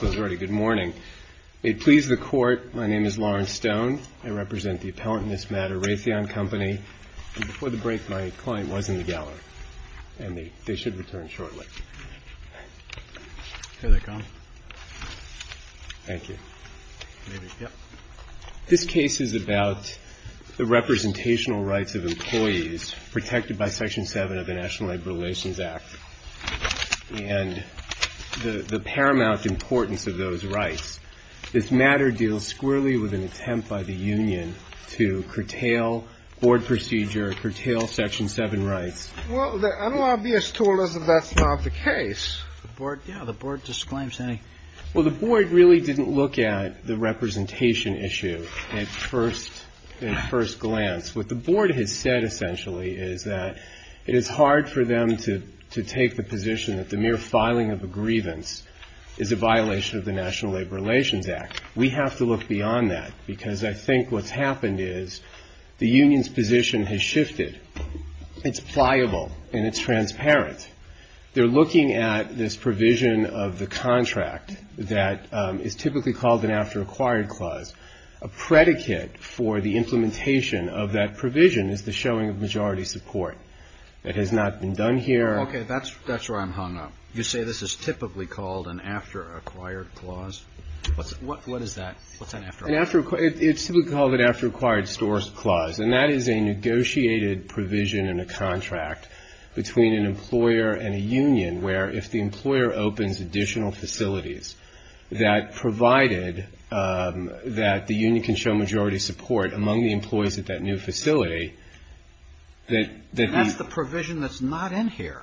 Good morning. May it please the Court, my name is Lawrence Stone. I represent the appellant in this matter, Raytheon Co. Before the break, my client was in the gallery, and they should return shortly. Here they come. Thank you. This case is about the representational rights of employees protected by Section 7 of the National Labor Relations Act. And the paramount importance of those rights. This matter deals squarely with an attempt by the union to curtail board procedure, curtail Section 7 rights. Well, the unobvious tool is that that's not the case. Yeah, the board disclaims anything. Well, the board really didn't look at the representation issue at first glance. What the board has said, essentially, is that it is hard for them to take the position that the mere filing of a grievance is a violation of the National Labor Relations Act. We have to look beyond that, because I think what's happened is the union's position has shifted. It's pliable, and it's transparent. They're looking at this provision of the contract that is typically called an after-acquired clause, a predicate for the implementation of that provision is the showing of majority support. That has not been done here. Okay. That's where I'm hung up. You say this is typically called an after-acquired clause? What is that? What's an after-acquired clause? It's typically called an after-acquired storage clause, and that is a negotiated provision in a contract between an employer and a union, where if the employer opens additional facilities that provided that the union can show majority support among the employees at that new facility, that the... That's the provision that's not in here.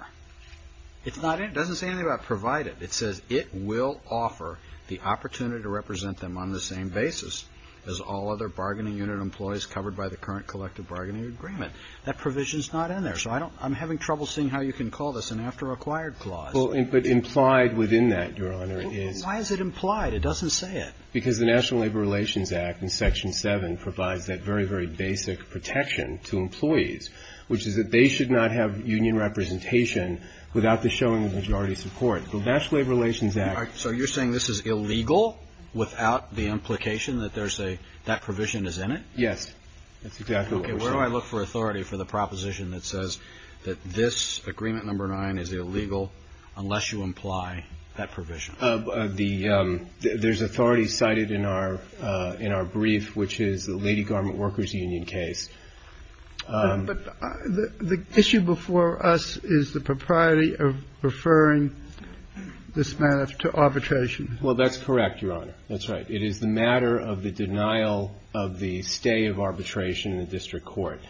It's not in. It doesn't say anything about provided. It says it will offer the opportunity to represent them on the same basis as all other bargaining unit employees covered by the current collective bargaining agreement. That provision's not in there, so I'm having trouble seeing how you can call this an after-acquired clause. Well, but implied within that, Your Honor, is... Why is it implied? It doesn't say it. Because the National Labor Relations Act in Section 7 provides that very, very basic protection to employees, which is that they should not have union representation without the showing of majority support. The National Labor Relations Act... All right. So you're saying this is illegal without the implication that there's a – that provision is in it? Yes. That's exactly what we're saying. Okay. Where do I look for authority for the proposition that says that this, Agreement No. 9, is illegal unless you imply that provision? There's authority cited in our brief, which is the Lady Garment Workers Union case. But the issue before us is the propriety of referring this matter to arbitration. Well, that's correct, Your Honor. That's right. It is the matter of the denial of the stay of arbitration in the district court.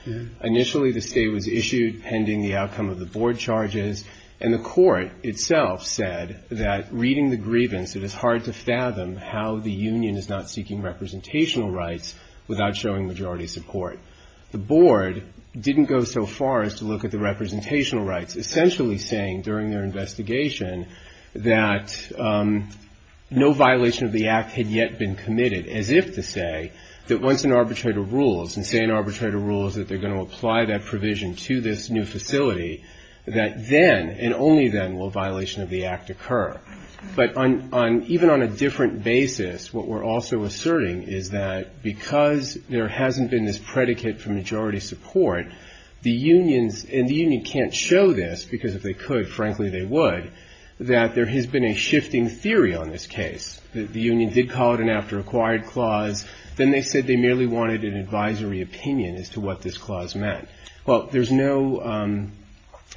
Initially, the stay was issued pending the outcome of the board charges, and the court itself said that reading the grievance, it is hard to fathom how the union is not seeking representational rights without showing majority support. The board didn't go so far as to look at the representational rights, essentially saying during their investigation that no violation of the Act had yet been committed, as if to say that once an arbitrator rules, and say an arbitrator rules that they're going to apply that provision to this new facility, that then, and only then, will a violation of the Act occur. But even on a different basis, what we're also asserting is that because there hasn't been this predicate for majority support, the unions, and the union can't show this, because if they could, frankly, they would, that there has been a shifting theory on this case. The union did call it an after-acquired clause. Then they said they merely wanted an advisory opinion as to what this clause meant. Well, there's no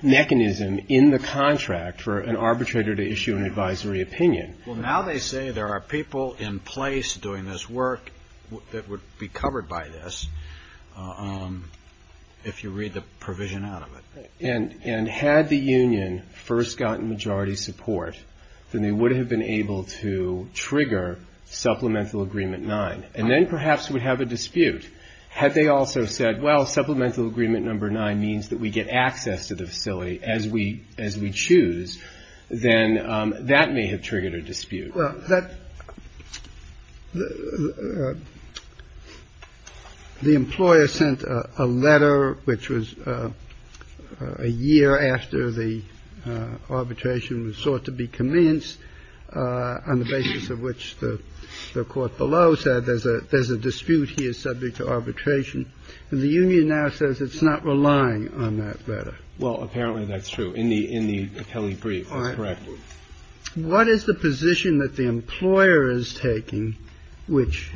mechanism in the contract for an arbitrator to issue an advisory opinion. Well, now they say there are people in place doing this work that would be covered by this, if you read the provision out of it. And had the union first gotten majority support, then they would have been able to trigger Supplemental Agreement 9, and then perhaps would have a dispute. Had they also said, well, Supplemental Agreement Number 9 means that we get access to the facility as we choose, then that may have triggered a dispute. Well, that the employer sent a letter, which was a year after the arbitration was sought to be commenced, on the basis of which the Court below said there's a dispute here subject to arbitration. And the union now says it's not relying on that letter. Well, apparently that's true. In the Kelly brief, that's correct. What is the position that the employer is taking, which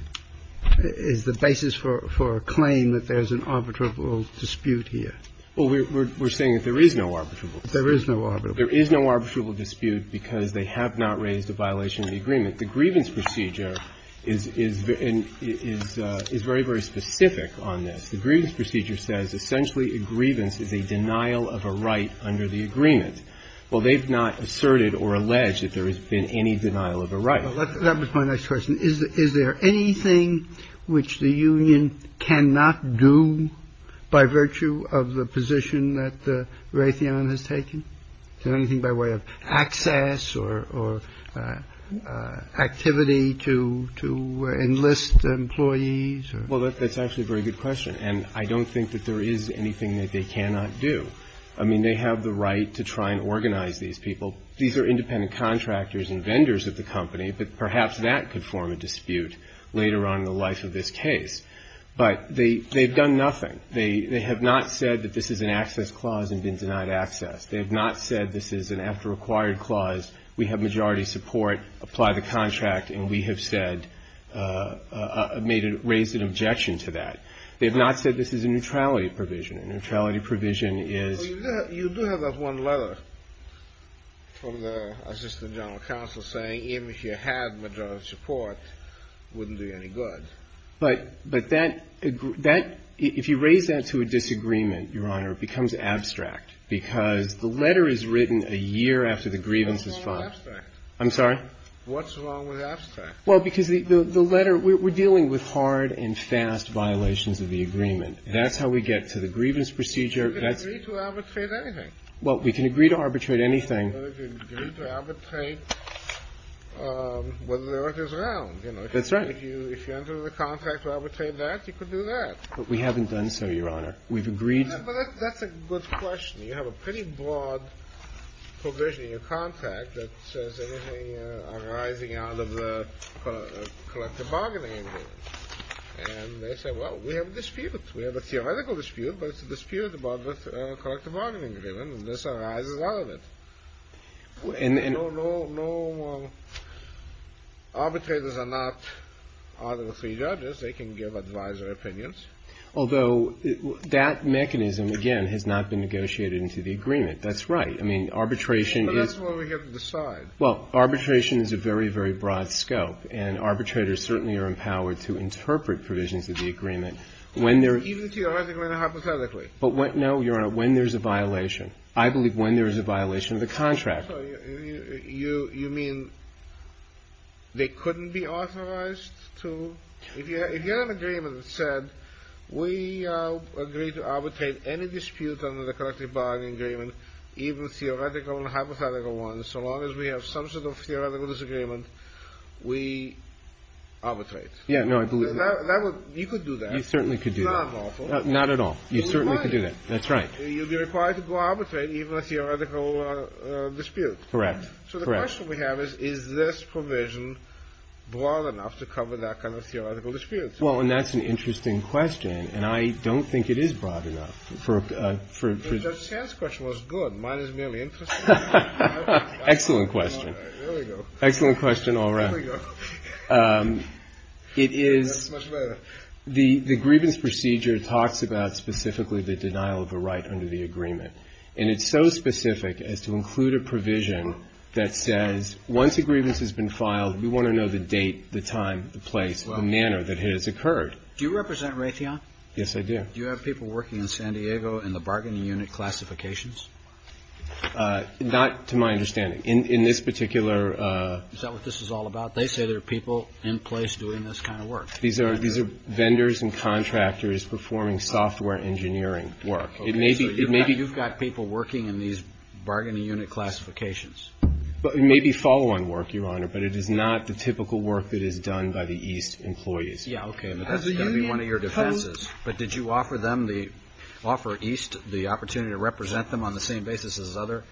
is the basis for a claim that there's an arbitrable dispute here? Well, we're saying that there is no arbitrable dispute. There is no arbitrable dispute. There is no arbitrable dispute because they have not raised a violation of the agreement. The grievance procedure is very, very specific on this. The grievance procedure says essentially a grievance is a denial of a right under the agreement. Well, they've not asserted or alleged that there has been any denial of a right. Well, that was my next question. Is there anything which the union cannot do by virtue of the position that Raytheon has taken? Is there anything by way of access or activity to enlist employees? Well, that's actually a very good question. And I don't think that there is anything that they cannot do. I mean, they have the right to try and organize these people. These are independent contractors and vendors of the company, but perhaps that could form a dispute later on in the life of this case. But they've done nothing. They have not said that this is an access clause and been denied access. They have not said this is an after-acquired clause, we have majority support, apply the contract, and we have said or raised an objection to that. They have not said this is a neutrality provision. A neutrality provision is you do have that one letter from the assistant general counsel saying even if you had majority support, it wouldn't do you any good. But that, if you raise that to a disagreement, Your Honor, it becomes abstract because the letter is written a year after the grievance is filed. What's wrong with abstract? I'm sorry? What's wrong with abstract? Well, because the letter, we're dealing with hard and fast violations of the agreement. That's how we get to the grievance procedure. You can agree to arbitrate anything. Well, we can agree to arbitrate anything. You can agree to arbitrate whether the order is round. That's right. If you enter the contract to arbitrate that, you can do that. But we haven't done so, Your Honor. We've agreed. But that's a good question. You have a pretty broad provision in your contract that says anything arising out of the collective bargaining agreement. And they say, well, we have a dispute. We have a theoretical dispute, but it's a dispute about the collective bargaining agreement, and this arises out of it. No arbitrators are not out of the three judges. They can give advisor opinions. Although that mechanism, again, has not been negotiated into the agreement. That's right. I mean, arbitration is… But that's what we have to decide. Well, arbitration is a very, very broad scope. And arbitrators certainly are empowered to interpret provisions of the agreement when they're… Even theoretically and hypothetically. But, no, Your Honor, when there's a violation. I believe when there is a violation of the contract. You mean they couldn't be authorized to… If you have an agreement that said, we agree to arbitrate any dispute under the collective bargaining agreement, even theoretical and hypothetical ones, so long as we have some sort of theoretical disagreement, we arbitrate. Yeah. No, I believe that. You could do that. You certainly could do that. It's not lawful. Not at all. You certainly could do that. That's right. You'd be required to go arbitrate even a theoretical dispute. Correct. Correct. So the question we have is, is this provision broad enough to cover that kind of theoretical dispute? Well, and that's an interesting question, and I don't think it is broad enough for… Judge Sands' question was good. Mine is merely interesting. Excellent question. All right. There we go. Excellent question. All right. There we go. It is… That's much better. The grievance procedure talks about specifically the denial of a right under the agreement, and it's so specific as to include a provision that says, once a grievance has been filed, we want to know the date, the time, the place, the manner that it has occurred. Do you represent Raytheon? Yes, I do. Do you have people working in San Diego in the bargaining unit classifications? Not to my understanding. In this particular… Is that what this is all about? They say there are people in place doing this kind of work. These are vendors and contractors performing software engineering work. It may be… So you've got people working in these bargaining unit classifications. It may be follow-on work, Your Honor, but it is not the typical work that is done by the East employees. Yeah, okay. But that's going to be one of your defenses. But did you offer them the – offer East the opportunity to represent them on the same basis as other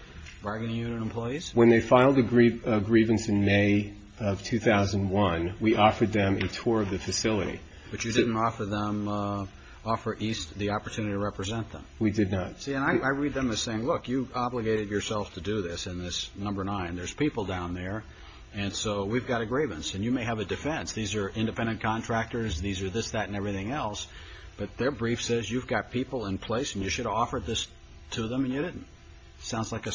bargaining unit employees? When they filed a grievance in May of 2001, we offered them a tour of the facility. But you didn't offer them – offer East the opportunity to represent them? We did not. See, and I read them as saying, look, you obligated yourself to do this in this number nine. There's people down there, and so we've got a grievance. And you may have a defense. These are independent contractors. These are this, that, and everything else. But their brief says you've got people in place, and you should have offered this to them, and you didn't. Sounds like a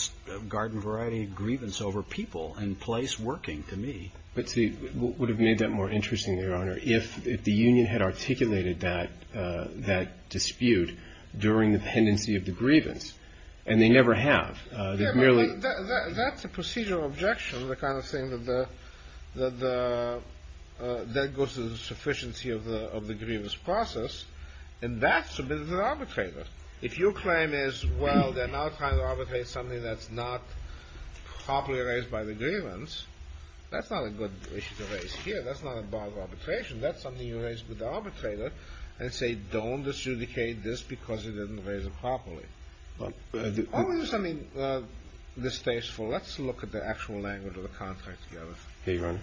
garden variety grievance over people in place working to me. But see, what would have made that more interesting, Your Honor, if the union had articulated that dispute during the pendency of the grievance? And they never have. They've merely – Yeah, but that's a procedural objection, the kind of thing that the – that goes to the sufficiency of the grievance process. And that's a bit of an arbitrator. If your claim is, well, they're now trying to arbitrate something that's not properly raised by the grievance, that's not a good issue to raise here. That's not a bar of arbitration. That's something you raise with the arbitrator and say, don't disjudicate this because you didn't raise it properly. Well, I do – I'm going to do something distasteful. Let's look at the actual language of the contract together. Okay, Your Honor.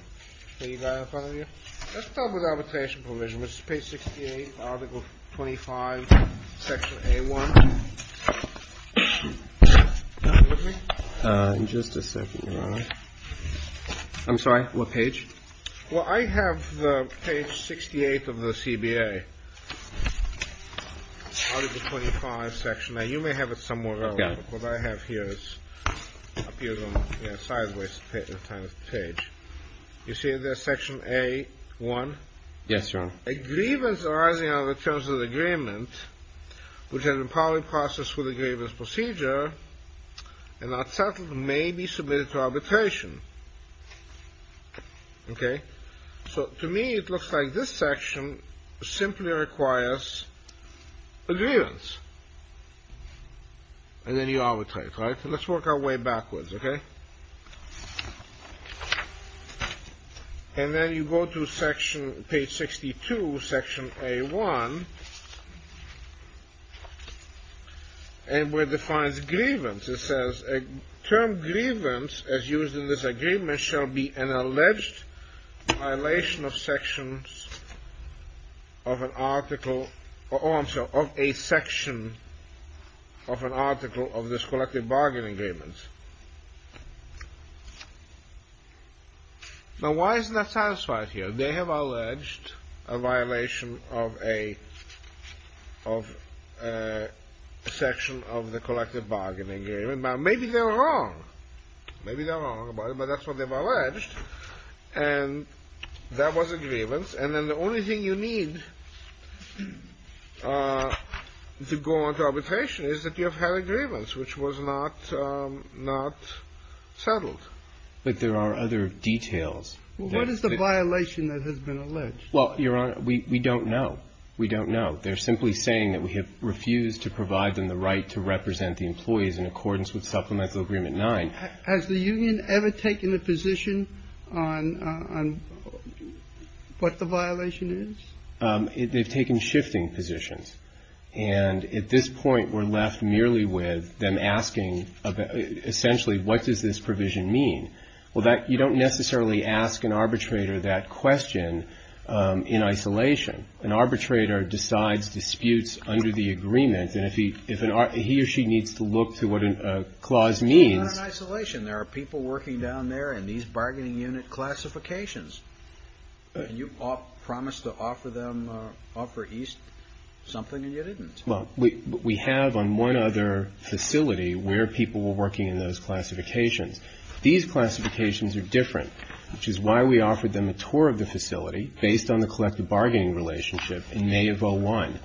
Let's start with arbitration provision. This is page 68, article 25, section A1. Are you with me? Just a second, Your Honor. I'm sorry, what page? Well, I have page 68 of the CBA, article 25, section A. You may have it somewhere else. Yeah. What I have here appears on a sideways page. You see there's section A1? Yes, Your Honor. A grievance arising out of a terms of agreement, which has been properly processed with a grievance procedure and not settled, may be submitted to arbitration. Okay? So to me, it looks like this section simply requires a grievance. And then you arbitrate, right? Let's work our way backwards, okay? And then you go to page 62, section A1, and where it defines grievance. It says, a term grievance, as used in this agreement, shall be an alleged violation of sections of an article, or I'm sorry, of a section of an article of this collective bargaining agreement. Now, why isn't that satisfied here? They have alleged a violation of a section of the collective bargaining agreement. Now, maybe they're wrong. Maybe they're wrong about it, but that's what they've alleged. And that was a grievance. And then the only thing you need to go on to arbitration is that you have had a grievance, which was not settled. But there are other details. Well, what is the violation that has been alleged? Well, Your Honor, we don't know. We don't know. They're simply saying that we have refused to provide them the right to represent the employees in accordance with Supplemental Agreement 9. Has the union ever taken a position on what the violation is? They've taken shifting positions. And at this point, we're left merely with them asking, essentially, what does this provision mean? Well, you don't necessarily ask an arbitrator that question in isolation. An arbitrator decides disputes under the agreement. And if he or she needs to look to what a clause means. It's not in isolation. There are people working down there in these bargaining unit classifications. And you promised to offer them, offer East something, and you didn't. Well, we have on one other facility where people were working in those classifications. These classifications are different, which is why we offered them a tour of the facility, based on the collective bargaining relationship in May of 01.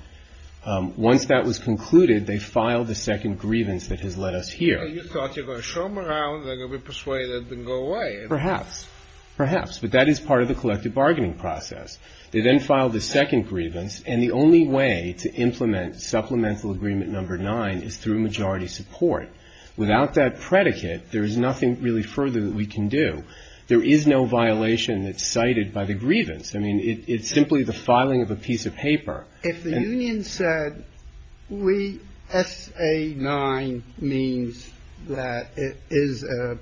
Once that was concluded, they filed the second grievance that has led us here. You thought you were going to show them around, they're going to be persuaded and go away. Perhaps. Perhaps. But that is part of the collective bargaining process. They then filed the second grievance. And the only way to implement Supplemental Agreement 9 is through majority support. Without that predicate, there is nothing really further that we can do. There is no violation that's cited by the grievance. I mean, it's simply the filing of a piece of paper. If the union said we, S.A. 9 means that it is an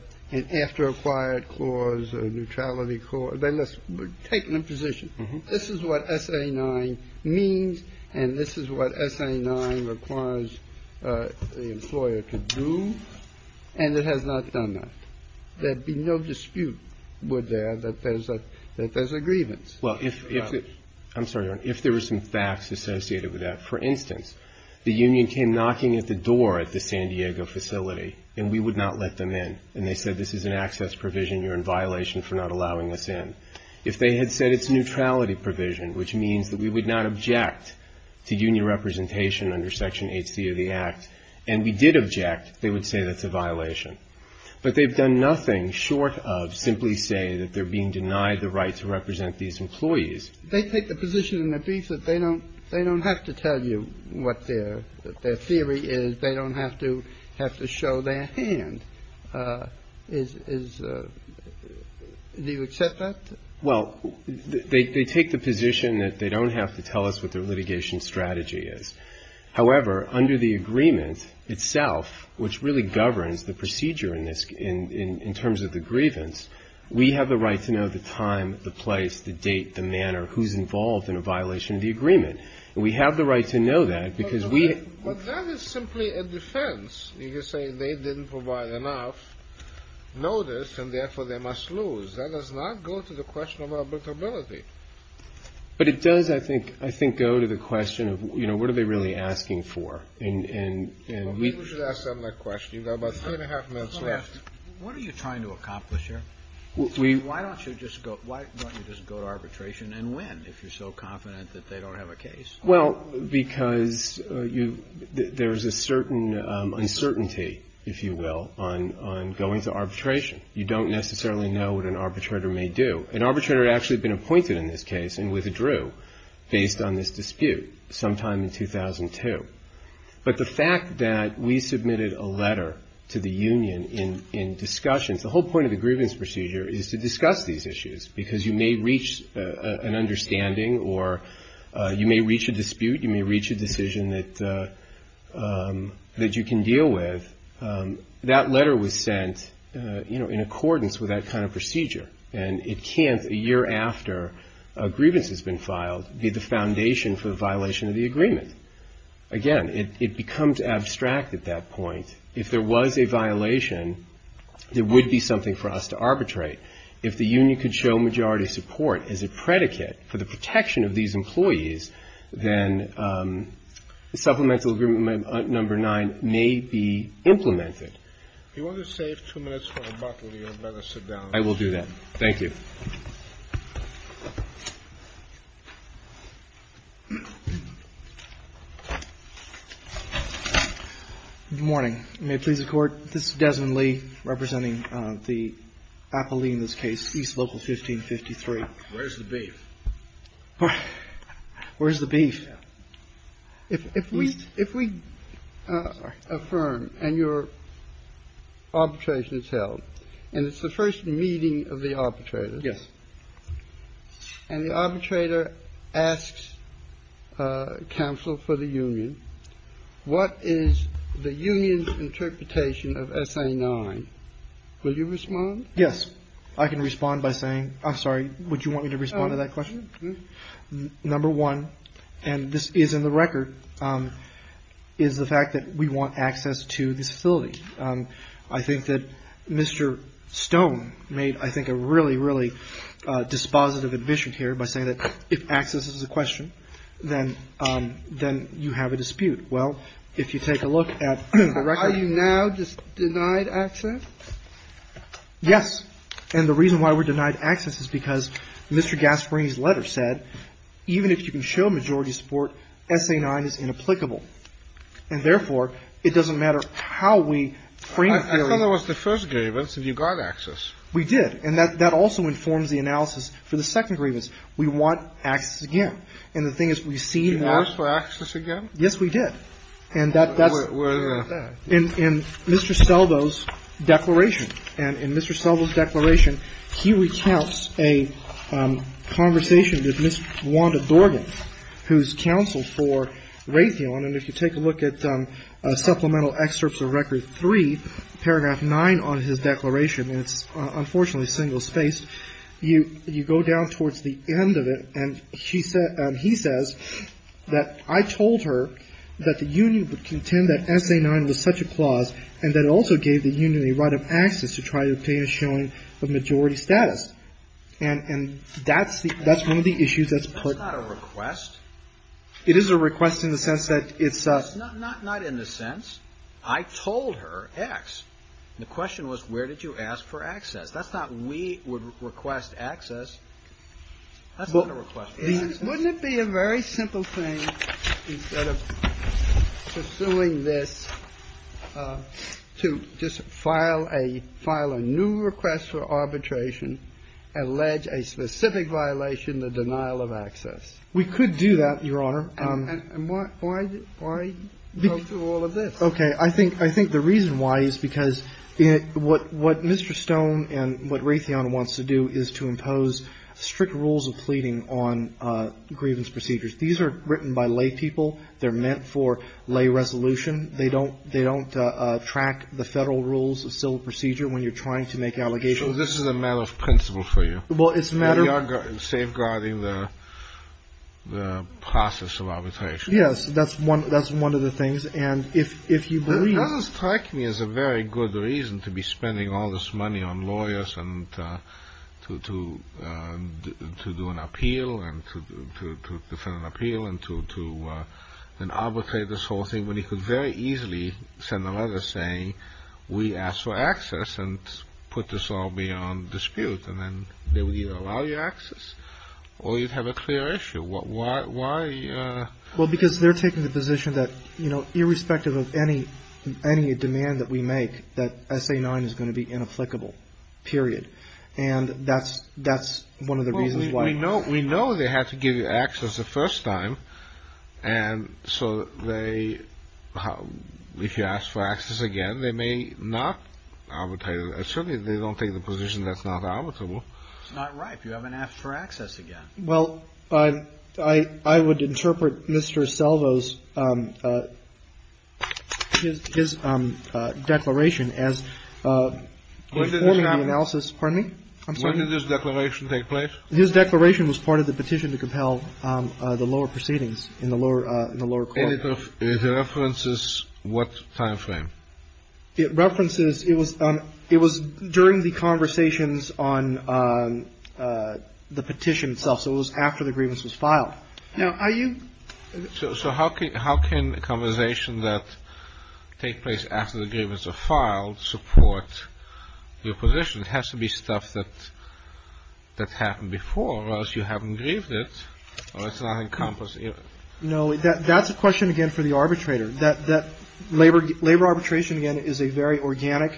after acquired clause, a neutrality clause, then let's take an imposition. This is what S.A. 9 means, and this is what S.A. 9 requires the employer to do. And it has not done that. There'd be no dispute, would there, that there's a grievance. Well, if the union came knocking at the door at the San Diego facility, and we would not let them in, and they said this is an access provision, you're in violation for not allowing us in. If they had said it's a neutrality provision, which means that we would not object to union representation under Section 8c of the Act, and we did object, they would say that's a violation. But they've done nothing short of simply say that they're being denied the right to represent these employees. They take the position in their brief that they don't have to tell you what their theory is. They don't have to show their hand. Do you accept that? Well, they take the position that they don't have to tell us what their litigation strategy is. However, under the agreement itself, which really governs the procedure in this, in terms of the grievance, we have the right to know the time, the place, the date, the manner, who's involved in a violation of the agreement. And we have the right to know that because we have the right to know that. But that is simply a defense. You could say they didn't provide enough notice and, therefore, they must lose. That does not go to the question of arbitrability. But it does, I think, go to the question of, you know, what are they really asking for. And we should ask them that question. You've got about three and a half minutes left. What are you trying to accomplish here? Why don't you just go to arbitration, and when, if you're so confident that they don't have a case? Well, because there's a certain uncertainty, if you will, on going to arbitration. You don't necessarily know what an arbitrator may do. An arbitrator had actually been appointed in this case and withdrew based on this dispute sometime in 2002. But the fact that we submitted a letter to the union in discussions, the whole point of the grievance procedure is to discuss these issues because you may reach an understanding or you may reach a dispute, you may reach a decision that you can deal with. That letter was sent, you know, in accordance with that kind of procedure. And it can't, a year after a grievance has been filed, be the foundation for a violation of the agreement. Again, it becomes abstract at that point. If there was a violation, there would be something for us to arbitrate. If the union could show majority support as a predicate for the protection of these employees, then Supplemental Agreement Number 9 may be implemented. If you want to save two minutes for rebuttal, you'd better sit down. I will do that. Thank you. Good morning. May it please the Court. This is Desmond Lee representing the appellee in this case, East Local 1553. Where's the beef? Where's the beef? If we affirm and your arbitration is held, and it's the first meeting of the arbitrator. Yes. And the arbitrator asks counsel for the union. What is the union's interpretation of SA 9? Will you respond? Yes. I can respond by saying, I'm sorry, would you want me to respond to that question? Number one, and this is in the record, is the fact that we want access to this facility. I think that Mr. Stone made, I think, a really, really dispositive admission here by saying that if access is a question, then you have a dispute. Well, if you take a look at the record. Are you now just denied access? Yes. And the reason why we're denied access is because Mr. Gasparini's letter said, even if you can show majority support, SA 9 is inapplicable. And therefore, it doesn't matter how we frame it. I thought that was the first grievance, and you got access. We did. And that also informs the analysis for the second grievance. We want access again. And the thing is, we've seen worse. You asked for access again? Yes, we did. And that's the thing about that. In Mr. Seldo's declaration, and in Mr. Seldo's declaration, he recounts a conversation with Ms. Wanda Dorgan, who's counsel for Raytheon. And if you take a look at Supplemental Excerpts of Record 3, paragraph 9 on his declaration, and it's unfortunately single-spaced, you go down towards the end of it, and he says that I told her that the union would contend that SA 9 was such a clause and that it also gave the union a right of access to try to obtain a showing of majority status. And that's one of the issues that's put. That's not a request. It is a request in the sense that it's a ---- Not in the sense I told her X. The question was where did you ask for access. That's not we would request access. That's not a request for access. Wouldn't it be a very simple thing instead of pursuing this to just file a new request for arbitration, allege a specific violation, the denial of access? We could do that, Your Honor. And why go through all of this? Okay. I think the reason why is because what Mr. Stone and what Raytheon wants to do is to impose strict rules of pleading on grievance procedures. These are written by laypeople. They're meant for lay resolution. They don't track the Federal rules of civil procedure when you're trying to make allegations This is a matter of principle for you. Well, it's a matter of We are safeguarding the process of arbitration. Yes, that's one of the things. And if you believe It doesn't strike me as a very good reason to be spending all this money on lawyers and to do an appeal and to defend an appeal and to arbitrate this whole thing when you could very easily send a letter saying we ask for access and put this all beyond dispute and then they would either allow you access or you'd have a clear issue. Why? Well, because they're taking the position that irrespective of any demand that we make that SA-9 is going to be inapplicable, period. And that's one of the reasons why We know they had to give you access the first time And so they If you ask for access again, they may not Certainly they don't take the position that's not arbitrable. That's not right. You haven't asked for access again. Well, I would interpret Mr. Selvo's His declaration as When did this happen? Pardon me? When did this declaration take place? His declaration was part of the petition to compel the lower proceedings in the lower court. And it references what time frame? It references It was during the conversations on the petition itself. So it was after the grievance was filed. Now, are you So how can a conversation that takes place after the grievance is filed support your position? It has to be stuff that happened before, or else you haven't grieved it. Or it's not encompassing it. No, that's a question again for the arbitrator. Labor arbitration, again, is a very organic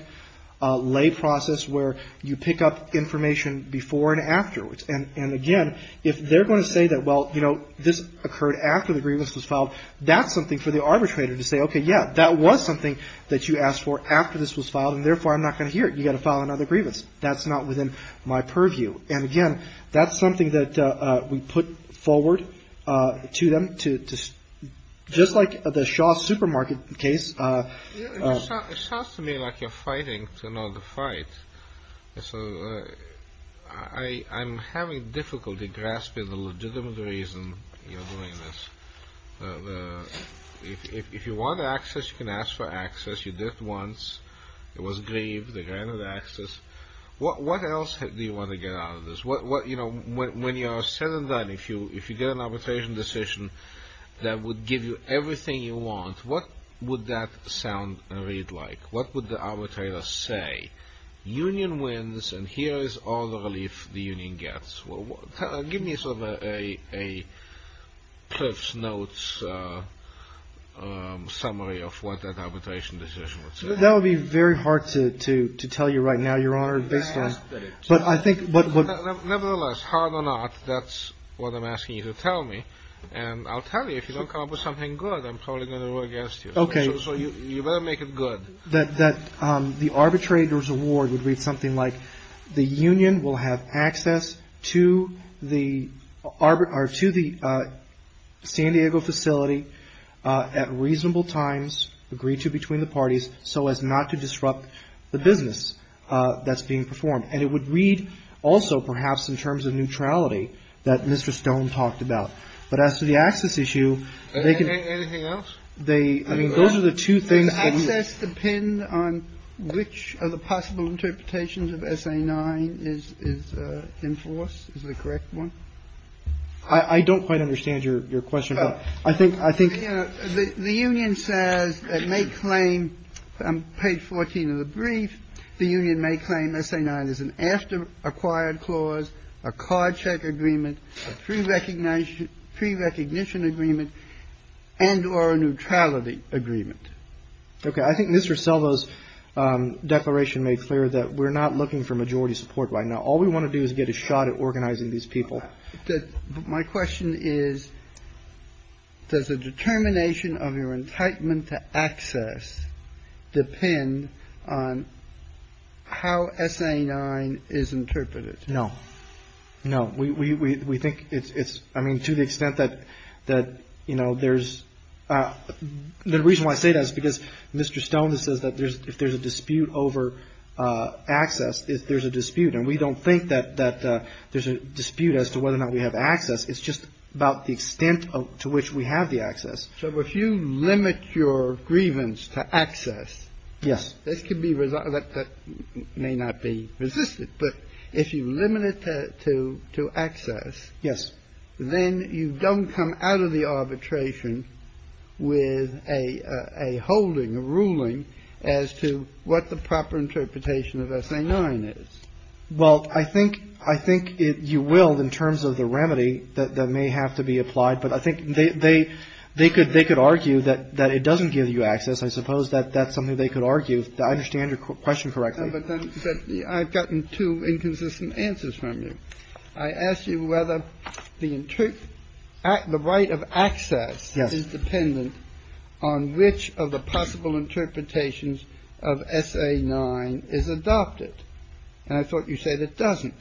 lay process where you pick up information before and afterwards. And again, if they're going to say that, well, you know, this occurred after the grievance was filed, that's something for the arbitrator to say, okay, yeah, that was something that you asked for after this was filed. And therefore, I'm not going to hear it. You got to file another grievance. That's not within my purview. And again, that's something that we put forward to them to just like the Shaw supermarket case. It sounds to me like you're fighting to know the fight. So I'm having difficulty grasping the legitimate reason you're doing this. If you want access, you can ask for access. You did it once. It was grieved. They granted access. What else do you want to get out of this? When you are said and done, if you get an arbitration decision that would give you everything you want, what would that sound and read like? What would the arbitrator say? Union wins, and here is all the relief the union gets. Give me sort of a Cliff's Notes summary of what that arbitration decision would say. That would be very hard to tell you right now, Your Honor, based on. Nevertheless, hard or not, that's what I'm asking you to tell me. And I'll tell you, if you don't come up with something good, I'm probably going to go against you. So you better make it good. The arbitrator's award would read something like the union will have access to the San Diego facility at reasonable times, agreed to between the parties so as not to disrupt the business that's being performed. And it would read also perhaps in terms of neutrality that Mr. Stone talked about. But as to the access issue, they can be. Anything else? I mean, those are the two things. Does access depend on which of the possible interpretations of SA 9 is enforced? Is that a correct one? I don't quite understand your question. The union says it may claim, on page 14 of the brief, the union may claim SA 9 is an after-acquired clause, a card check agreement, a prerecognition agreement, and or a neutrality agreement. Okay. I think Mr. Selva's declaration made clear that we're not looking for majority support right now. All we want to do is get a shot at organizing these people. So my question is, does the determination of your entitlement to access depend on how SA 9 is interpreted? No. No. We think it's, I mean, to the extent that, you know, there's the reason why I say that is because Mr. Stone says that if there's a dispute over access, if there's a dispute, and we don't think that there's a dispute as to whether or not we have access. It's just about the extent to which we have the access. So if you limit your grievance to access. Yes. This could be, that may not be resisted. But if you limit it to access. Yes. But if you limit it to access, then you don't come out of the arbitration with a holding, a ruling as to what the proper interpretation of SA 9 is. Well, I think you will in terms of the remedy that may have to be applied, but I think they could argue that it doesn't give you access. I suppose that's something they could argue. I understand your question correctly. But I've gotten two inconsistent answers from you. I asked you whether the right of access is dependent on which of the possible interpretations of SA 9 is adopted. And I thought you said it doesn't.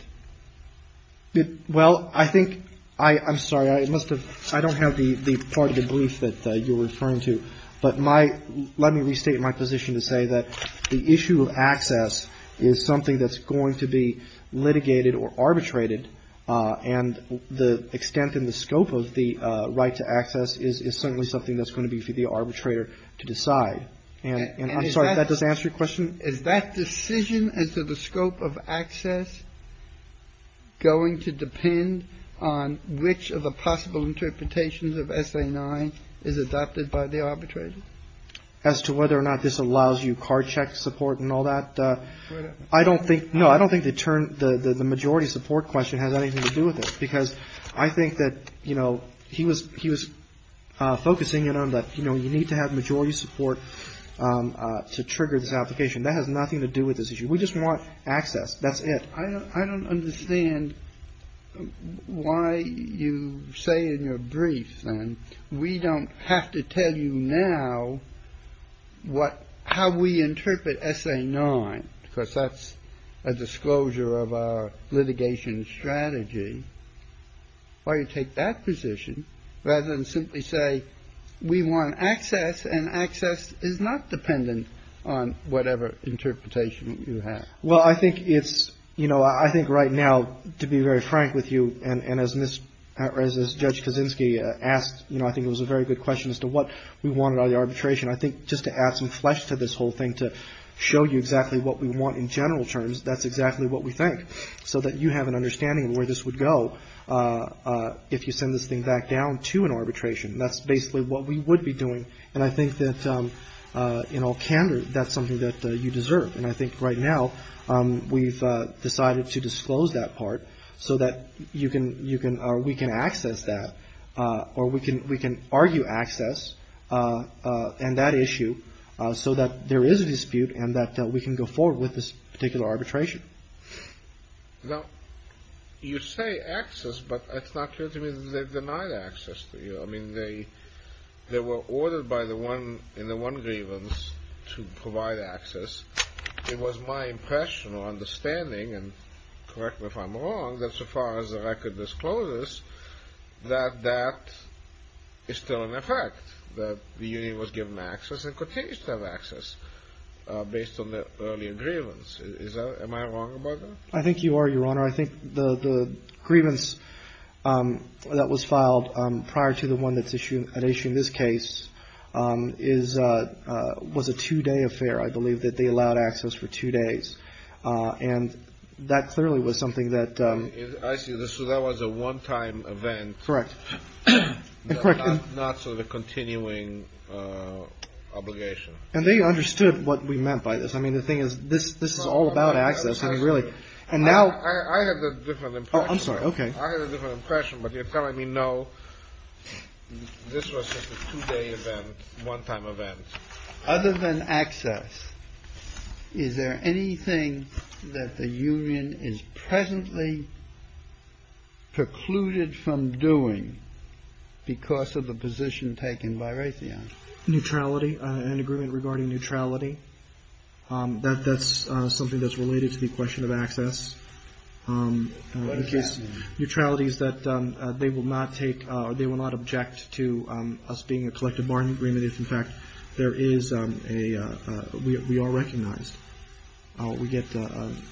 Well, I think I'm sorry. I must have, I don't have the part of the brief that you're referring to. But my, let me restate my position to say that the issue of access is something that's going to be litigated or arbitrated. And the extent and the scope of the right to access is certainly something that's going to be for the arbitrator to decide. And I'm sorry if that doesn't answer your question. Is that decision as to the scope of access going to depend on which of the possible interpretations of SA 9 is adopted by the arbitrator? As to whether or not this allows you card check support and all that. I don't think. No, I don't think they turn the majority support question has anything to do with it, because I think that, you know, he was he was focusing on that. You know, you need to have majority support to trigger this application that has nothing to do with this issue. We just want access. That's it. I don't understand why you say in your brief and we don't have to tell you now what how we interpret SA 9, because that's a disclosure of our litigation strategy. Why you take that position rather than simply say we want access and access is not dependent on whatever interpretation you have. Well, I think it's you know, I think right now, to be very frank with you. And as this as Judge Kaczynski asked, you know, I think it was a very good question as to what we wanted on the arbitration. I think just to add some flesh to this whole thing, to show you exactly what we want in general terms. That's exactly what we think. So that you have an understanding of where this would go if you send this thing back down to an arbitration. That's basically what we would be doing. And I think that in all candor, that's something that you deserve. And I think right now we've decided to disclose that part so that you can you can or we can access that or we can we can argue access. And that issue so that there is a dispute and that we can go forward with this particular arbitration. Now, you say access, but it's not clear to me that they denied access to you. I mean, they they were ordered by the one in the one grievance to provide access. It was my impression or understanding and correct me if I'm wrong, that so far as the record discloses that that is still in effect. That the union was given access and continues to have access based on the earlier grievance. Am I wrong about that? I think you are, Your Honor. I think the the grievance that was filed prior to the one that's issued an issue in this case is was a two day affair. I believe that they allowed access for two days. And that clearly was something that I see. So that was a one time event. Correct. Correct. Not so the continuing obligation. And they understood what we meant by this. I mean, the thing is, this this is all about access and really. And now I have a different. I'm sorry. OK. I have a different impression. But you're telling me, no, this was a two day event, one time event other than access. Is there anything that the union is presently precluded from doing because of the position taken by Raytheon neutrality and agreement regarding neutrality? That that's something that's related to the question of access. Neutrality is that they will not take or they will not object to us being a collective bargaining agreement. In fact, there is a we are recognized. We get some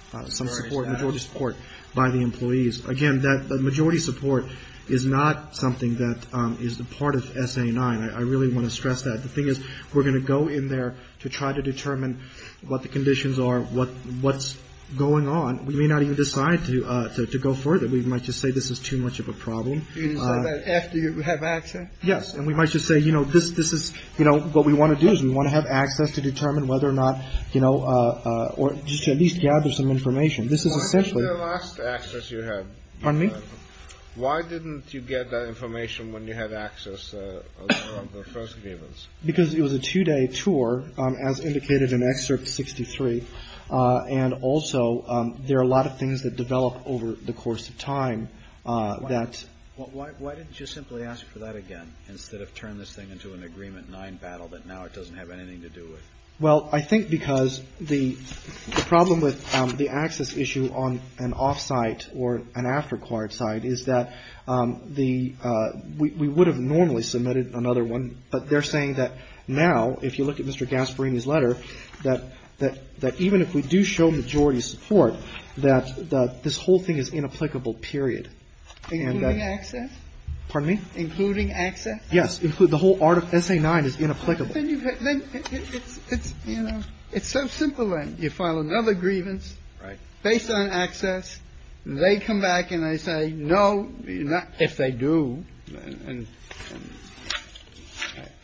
support, majority support by the employees. Again, that majority support is not something that is the part of S.A. The thing is, we're going to go in there to try to determine what the conditions are, what what's going on. We may not even decide to go further. We might just say this is too much of a problem after you have access. Yes. And we might just say, you know, this this is, you know, what we want to do is we want to have access to determine whether or not, you know, or at least gather some information. This is essentially the last access you had on me. Why didn't you get that information when you had access? Because it was a two day tour, as indicated in Excerpt 63. And also there are a lot of things that develop over the course of time. That's why. Why didn't you simply ask for that again instead of turn this thing into an agreement nine battle that now it doesn't have anything to do with? Well, I think because the problem with the access issue on an off-site or an after-card site is that the we would have normally submitted another one. But they're saying that now, if you look at Mr. Gasparini's letter, that that that even if we do show majority support, that this whole thing is inapplicable, period. And that access, pardon me, including access. Yes. Include the whole article. It's a nine is inapplicable. Then it's it's, you know, it's so simple. And you file another grievance based on access. They come back and they say, no, not if they do. And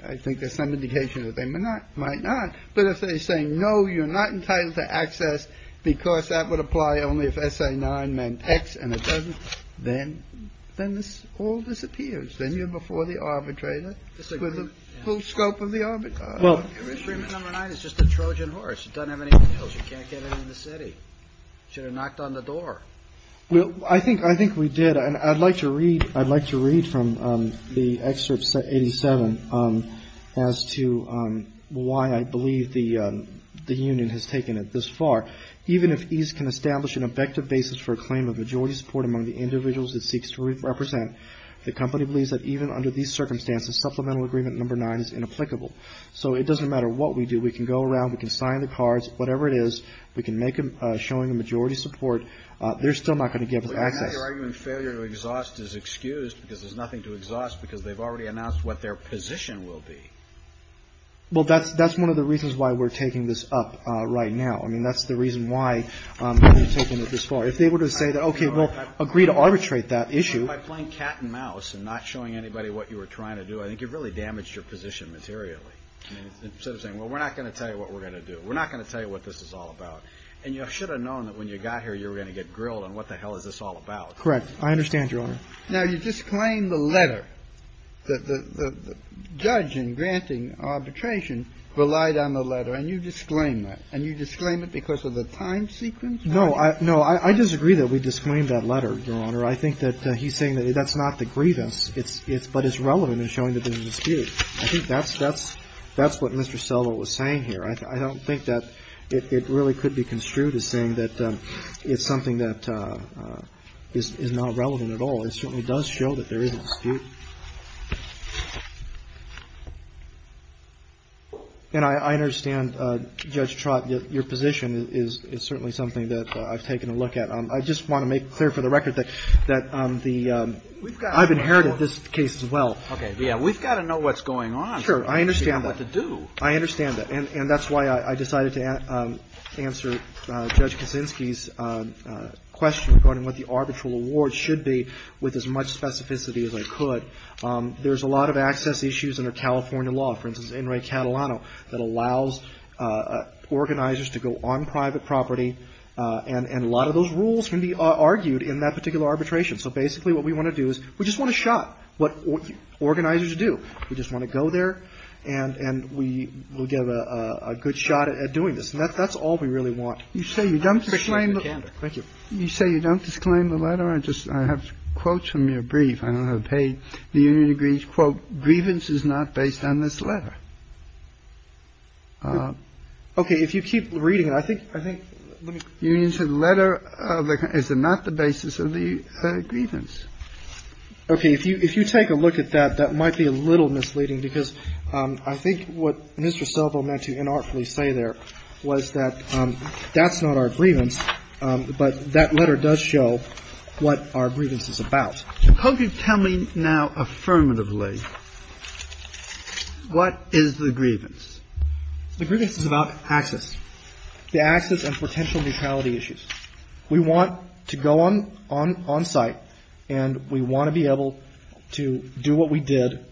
I think there's some indication that they may not might not. But if they say, no, you're not entitled to access because that would apply only if I say nine men X and it doesn't. Then then this all disappears. Then you're before the arbitrator with the full scope of the arbitrage. Well, it's just a Trojan horse. It doesn't have anything else. You can't get it in the city. Should have knocked on the door. Well, I think I think we did. And I'd like to read I'd like to read from the excerpts that 87 as to why I believe the the union has taken it this far. Even if he's can establish an effective basis for a claim of majority support among the individuals it seeks to represent. The company believes that even under these circumstances, supplemental agreement number nine is inapplicable. So it doesn't matter what we do. We can go around. We can sign the cards, whatever it is. We can make them showing the majority support. They're still not going to give us access to failure to exhaust is excused because there's nothing to exhaust because they've already announced what their position will be. Well, that's that's one of the reasons why we're taking this up right now. I mean, that's the reason why we're taking it this far. If they were to say that, OK, we'll agree to arbitrate that issue by playing cat and mouse and not showing anybody what you were trying to do. I think you've really damaged your position materially saying, well, we're not going to tell you what we're going to do. We're not going to tell you what this is all about. And you should have known that when you got here, you were going to get grilled on what the hell is this all about. Correct. I understand, Your Honor. Now, you just claim the letter that the judge in granting arbitration relied on the letter. And you disclaim that and you disclaim it because of the time sequence. No, no, I disagree that we disclaim that letter, Your Honor. I think that he's saying that that's not the grievance. It's it's but it's relevant in showing that there's a dispute. I think that's that's that's what Mr. Soto was saying here. I don't think that it really could be construed as saying that it's something that is not relevant at all. It certainly does show that there is a dispute. And I understand, Judge Trott, your position is certainly something that I've taken a look at. I just want to make clear for the record that that the I've inherited this case as well. OK. Yeah. We've got to know what's going on. Sure. I understand what to do. I understand that. And that's why I decided to answer Judge Kaczynski's question regarding what the arbitral award should be with as much specificity as I could. There's a lot of access issues under California law, for instance, in Enrique Catalano, that allows organizers to go on private property. And a lot of those rules can be argued in that particular arbitration. So basically what we want to do is we just want to shot what organizers do. We just want to go there and and we will give a good shot at doing this. And that's all we really want. You say you don't. Thank you. You say you don't disclaim the letter. I just I have quotes from your brief. I don't have paid the union degrees. Quote, grievance is not based on this letter. OK, if you keep reading it, I think I think you said letter is not the basis of the grievance. OK, if you if you take a look at that, that might be a little misleading, because I think what Mr. Silva meant to inartfully say there was that that's not our grievance. But that letter does show what our grievance is about. Could you tell me now, affirmatively, what is the grievance? The grievance is about access, the access and potential neutrality issues. We want to go on on on site and we want to be able to do what we did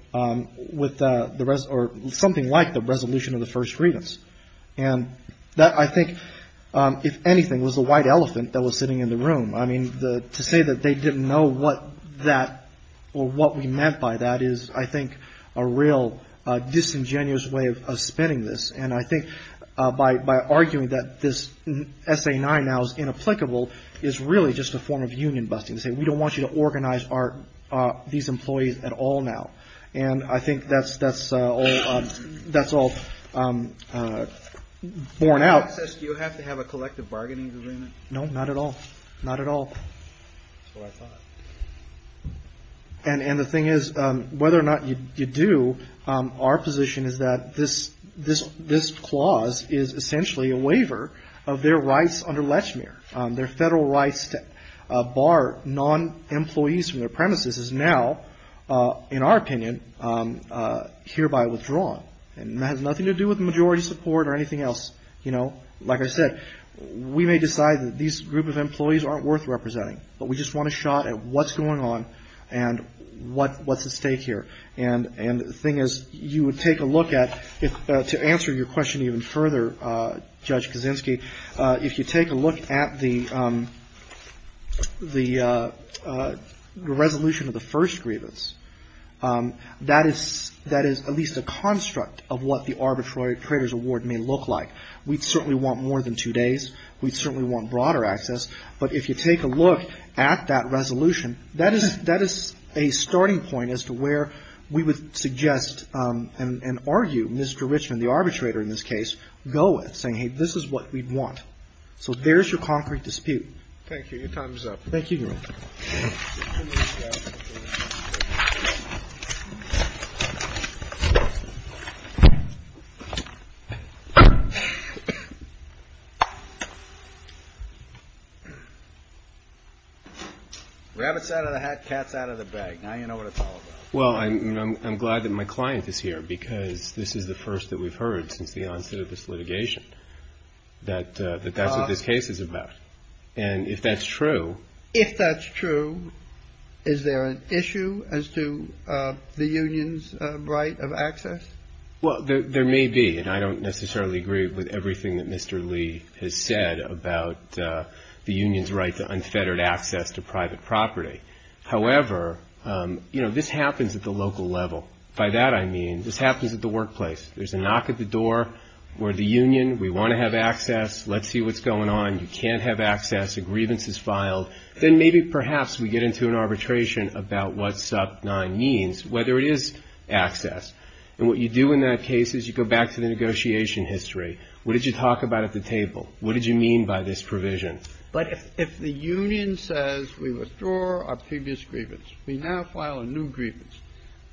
with the rest or something like the resolution of the first grievance. And that I think, if anything, was a white elephant that was sitting in the room. I mean, to say that they didn't know what that or what we meant by that is, I think, a real disingenuous way of spinning this. And I think by arguing that this essay now is inapplicable is really just a form of union busting to say we don't want you to organize our these employees at all now. And I think that's that's all that's all born out. Do you have to have a collective bargaining agreement? No, not at all. Not at all. And the thing is, whether or not you do, our position is that this this this clause is essentially a waiver of their rights under Lechmere, their federal rights to bar non employees from their premises is now, in our opinion, hereby withdrawn. And that has nothing to do with majority support or anything else. You know, like I said, we may decide that these group of employees aren't worth representing, but we just want a shot at what's going on and what what's at stake here. And and the thing is, you would take a look at it to answer your question even further. Judge Kaczynski, if you take a look at the the resolution of the first grievance, that is that is at least a construct of what the arbitrary traders award may look like. We certainly want more than two days. We certainly want broader access. But if you take a look at that resolution, that is that is a starting point as to where we would suggest and argue Mr. Richman, the arbitrator in this case, go with saying, hey, this is what we'd want. So there's your concrete dispute. Thank you. Your time is up. Thank you. Rabbits out of the hat, cats out of the bag. Now, you know what it's all about. Well, I'm glad that my client is here because this is the first that we've heard since the onset of this litigation that that's what this case is about. And if that's true, if that's true, is there an issue as to the union's right of access? Well, there may be. And I don't necessarily agree with everything that Mr. Lee has said about the union's right to unfettered access to private property. However, you know, this happens at the local level. By that, I mean this happens at the workplace. There's a knock at the door where the union, we want to have access. Let's see what's going on. You can't have access. A grievance is filed. Then maybe perhaps we get into an arbitration about what sub nine means, whether it is access. And what you do in that case is you go back to the negotiation history. What did you talk about at the table? What did you mean by this provision? But if the union says we withdraw our previous grievance, we now file a new grievance.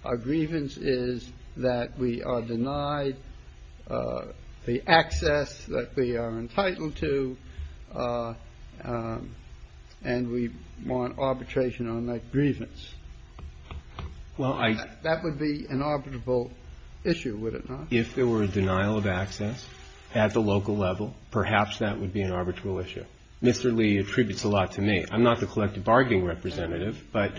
Our grievance is that we are denied the access that we are entitled to. And we want arbitration on that grievance. Well, that would be an arbitrable issue, would it not? If there were a denial of access at the local level, perhaps that would be an arbitral issue. Mr. Lee attributes a lot to me. I'm not the collective bargaining representative, but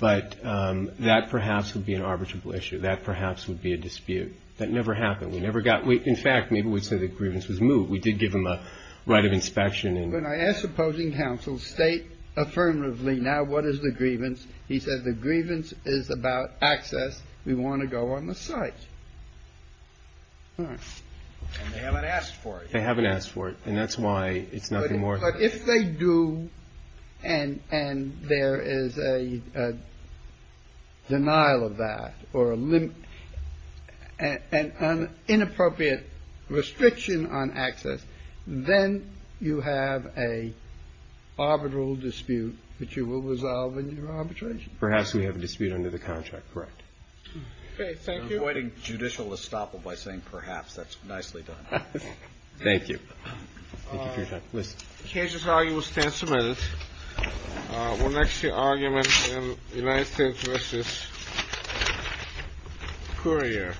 that perhaps would be an arbitrable issue. That perhaps would be a dispute. That never happened. We never got. In fact, maybe we'd say the grievance was moved. We did give him a right of inspection. And when I asked opposing counsels, state affirmatively now what is the grievance? He said the grievance is about access. We want to go on the site. They haven't asked for it. They haven't asked for it. And that's why it's nothing more. But if they do, and there is a denial of that or an inappropriate restriction on access, then you have a arbitral dispute that you will resolve in your arbitration. Perhaps we have a dispute under the contract. Correct. OK, thank you. Avoiding judicial estoppel by saying perhaps, that's nicely done. Thank you. Thank you for your time. With cases, how you will stand submitted. What makes the argument in the United States versus Korea?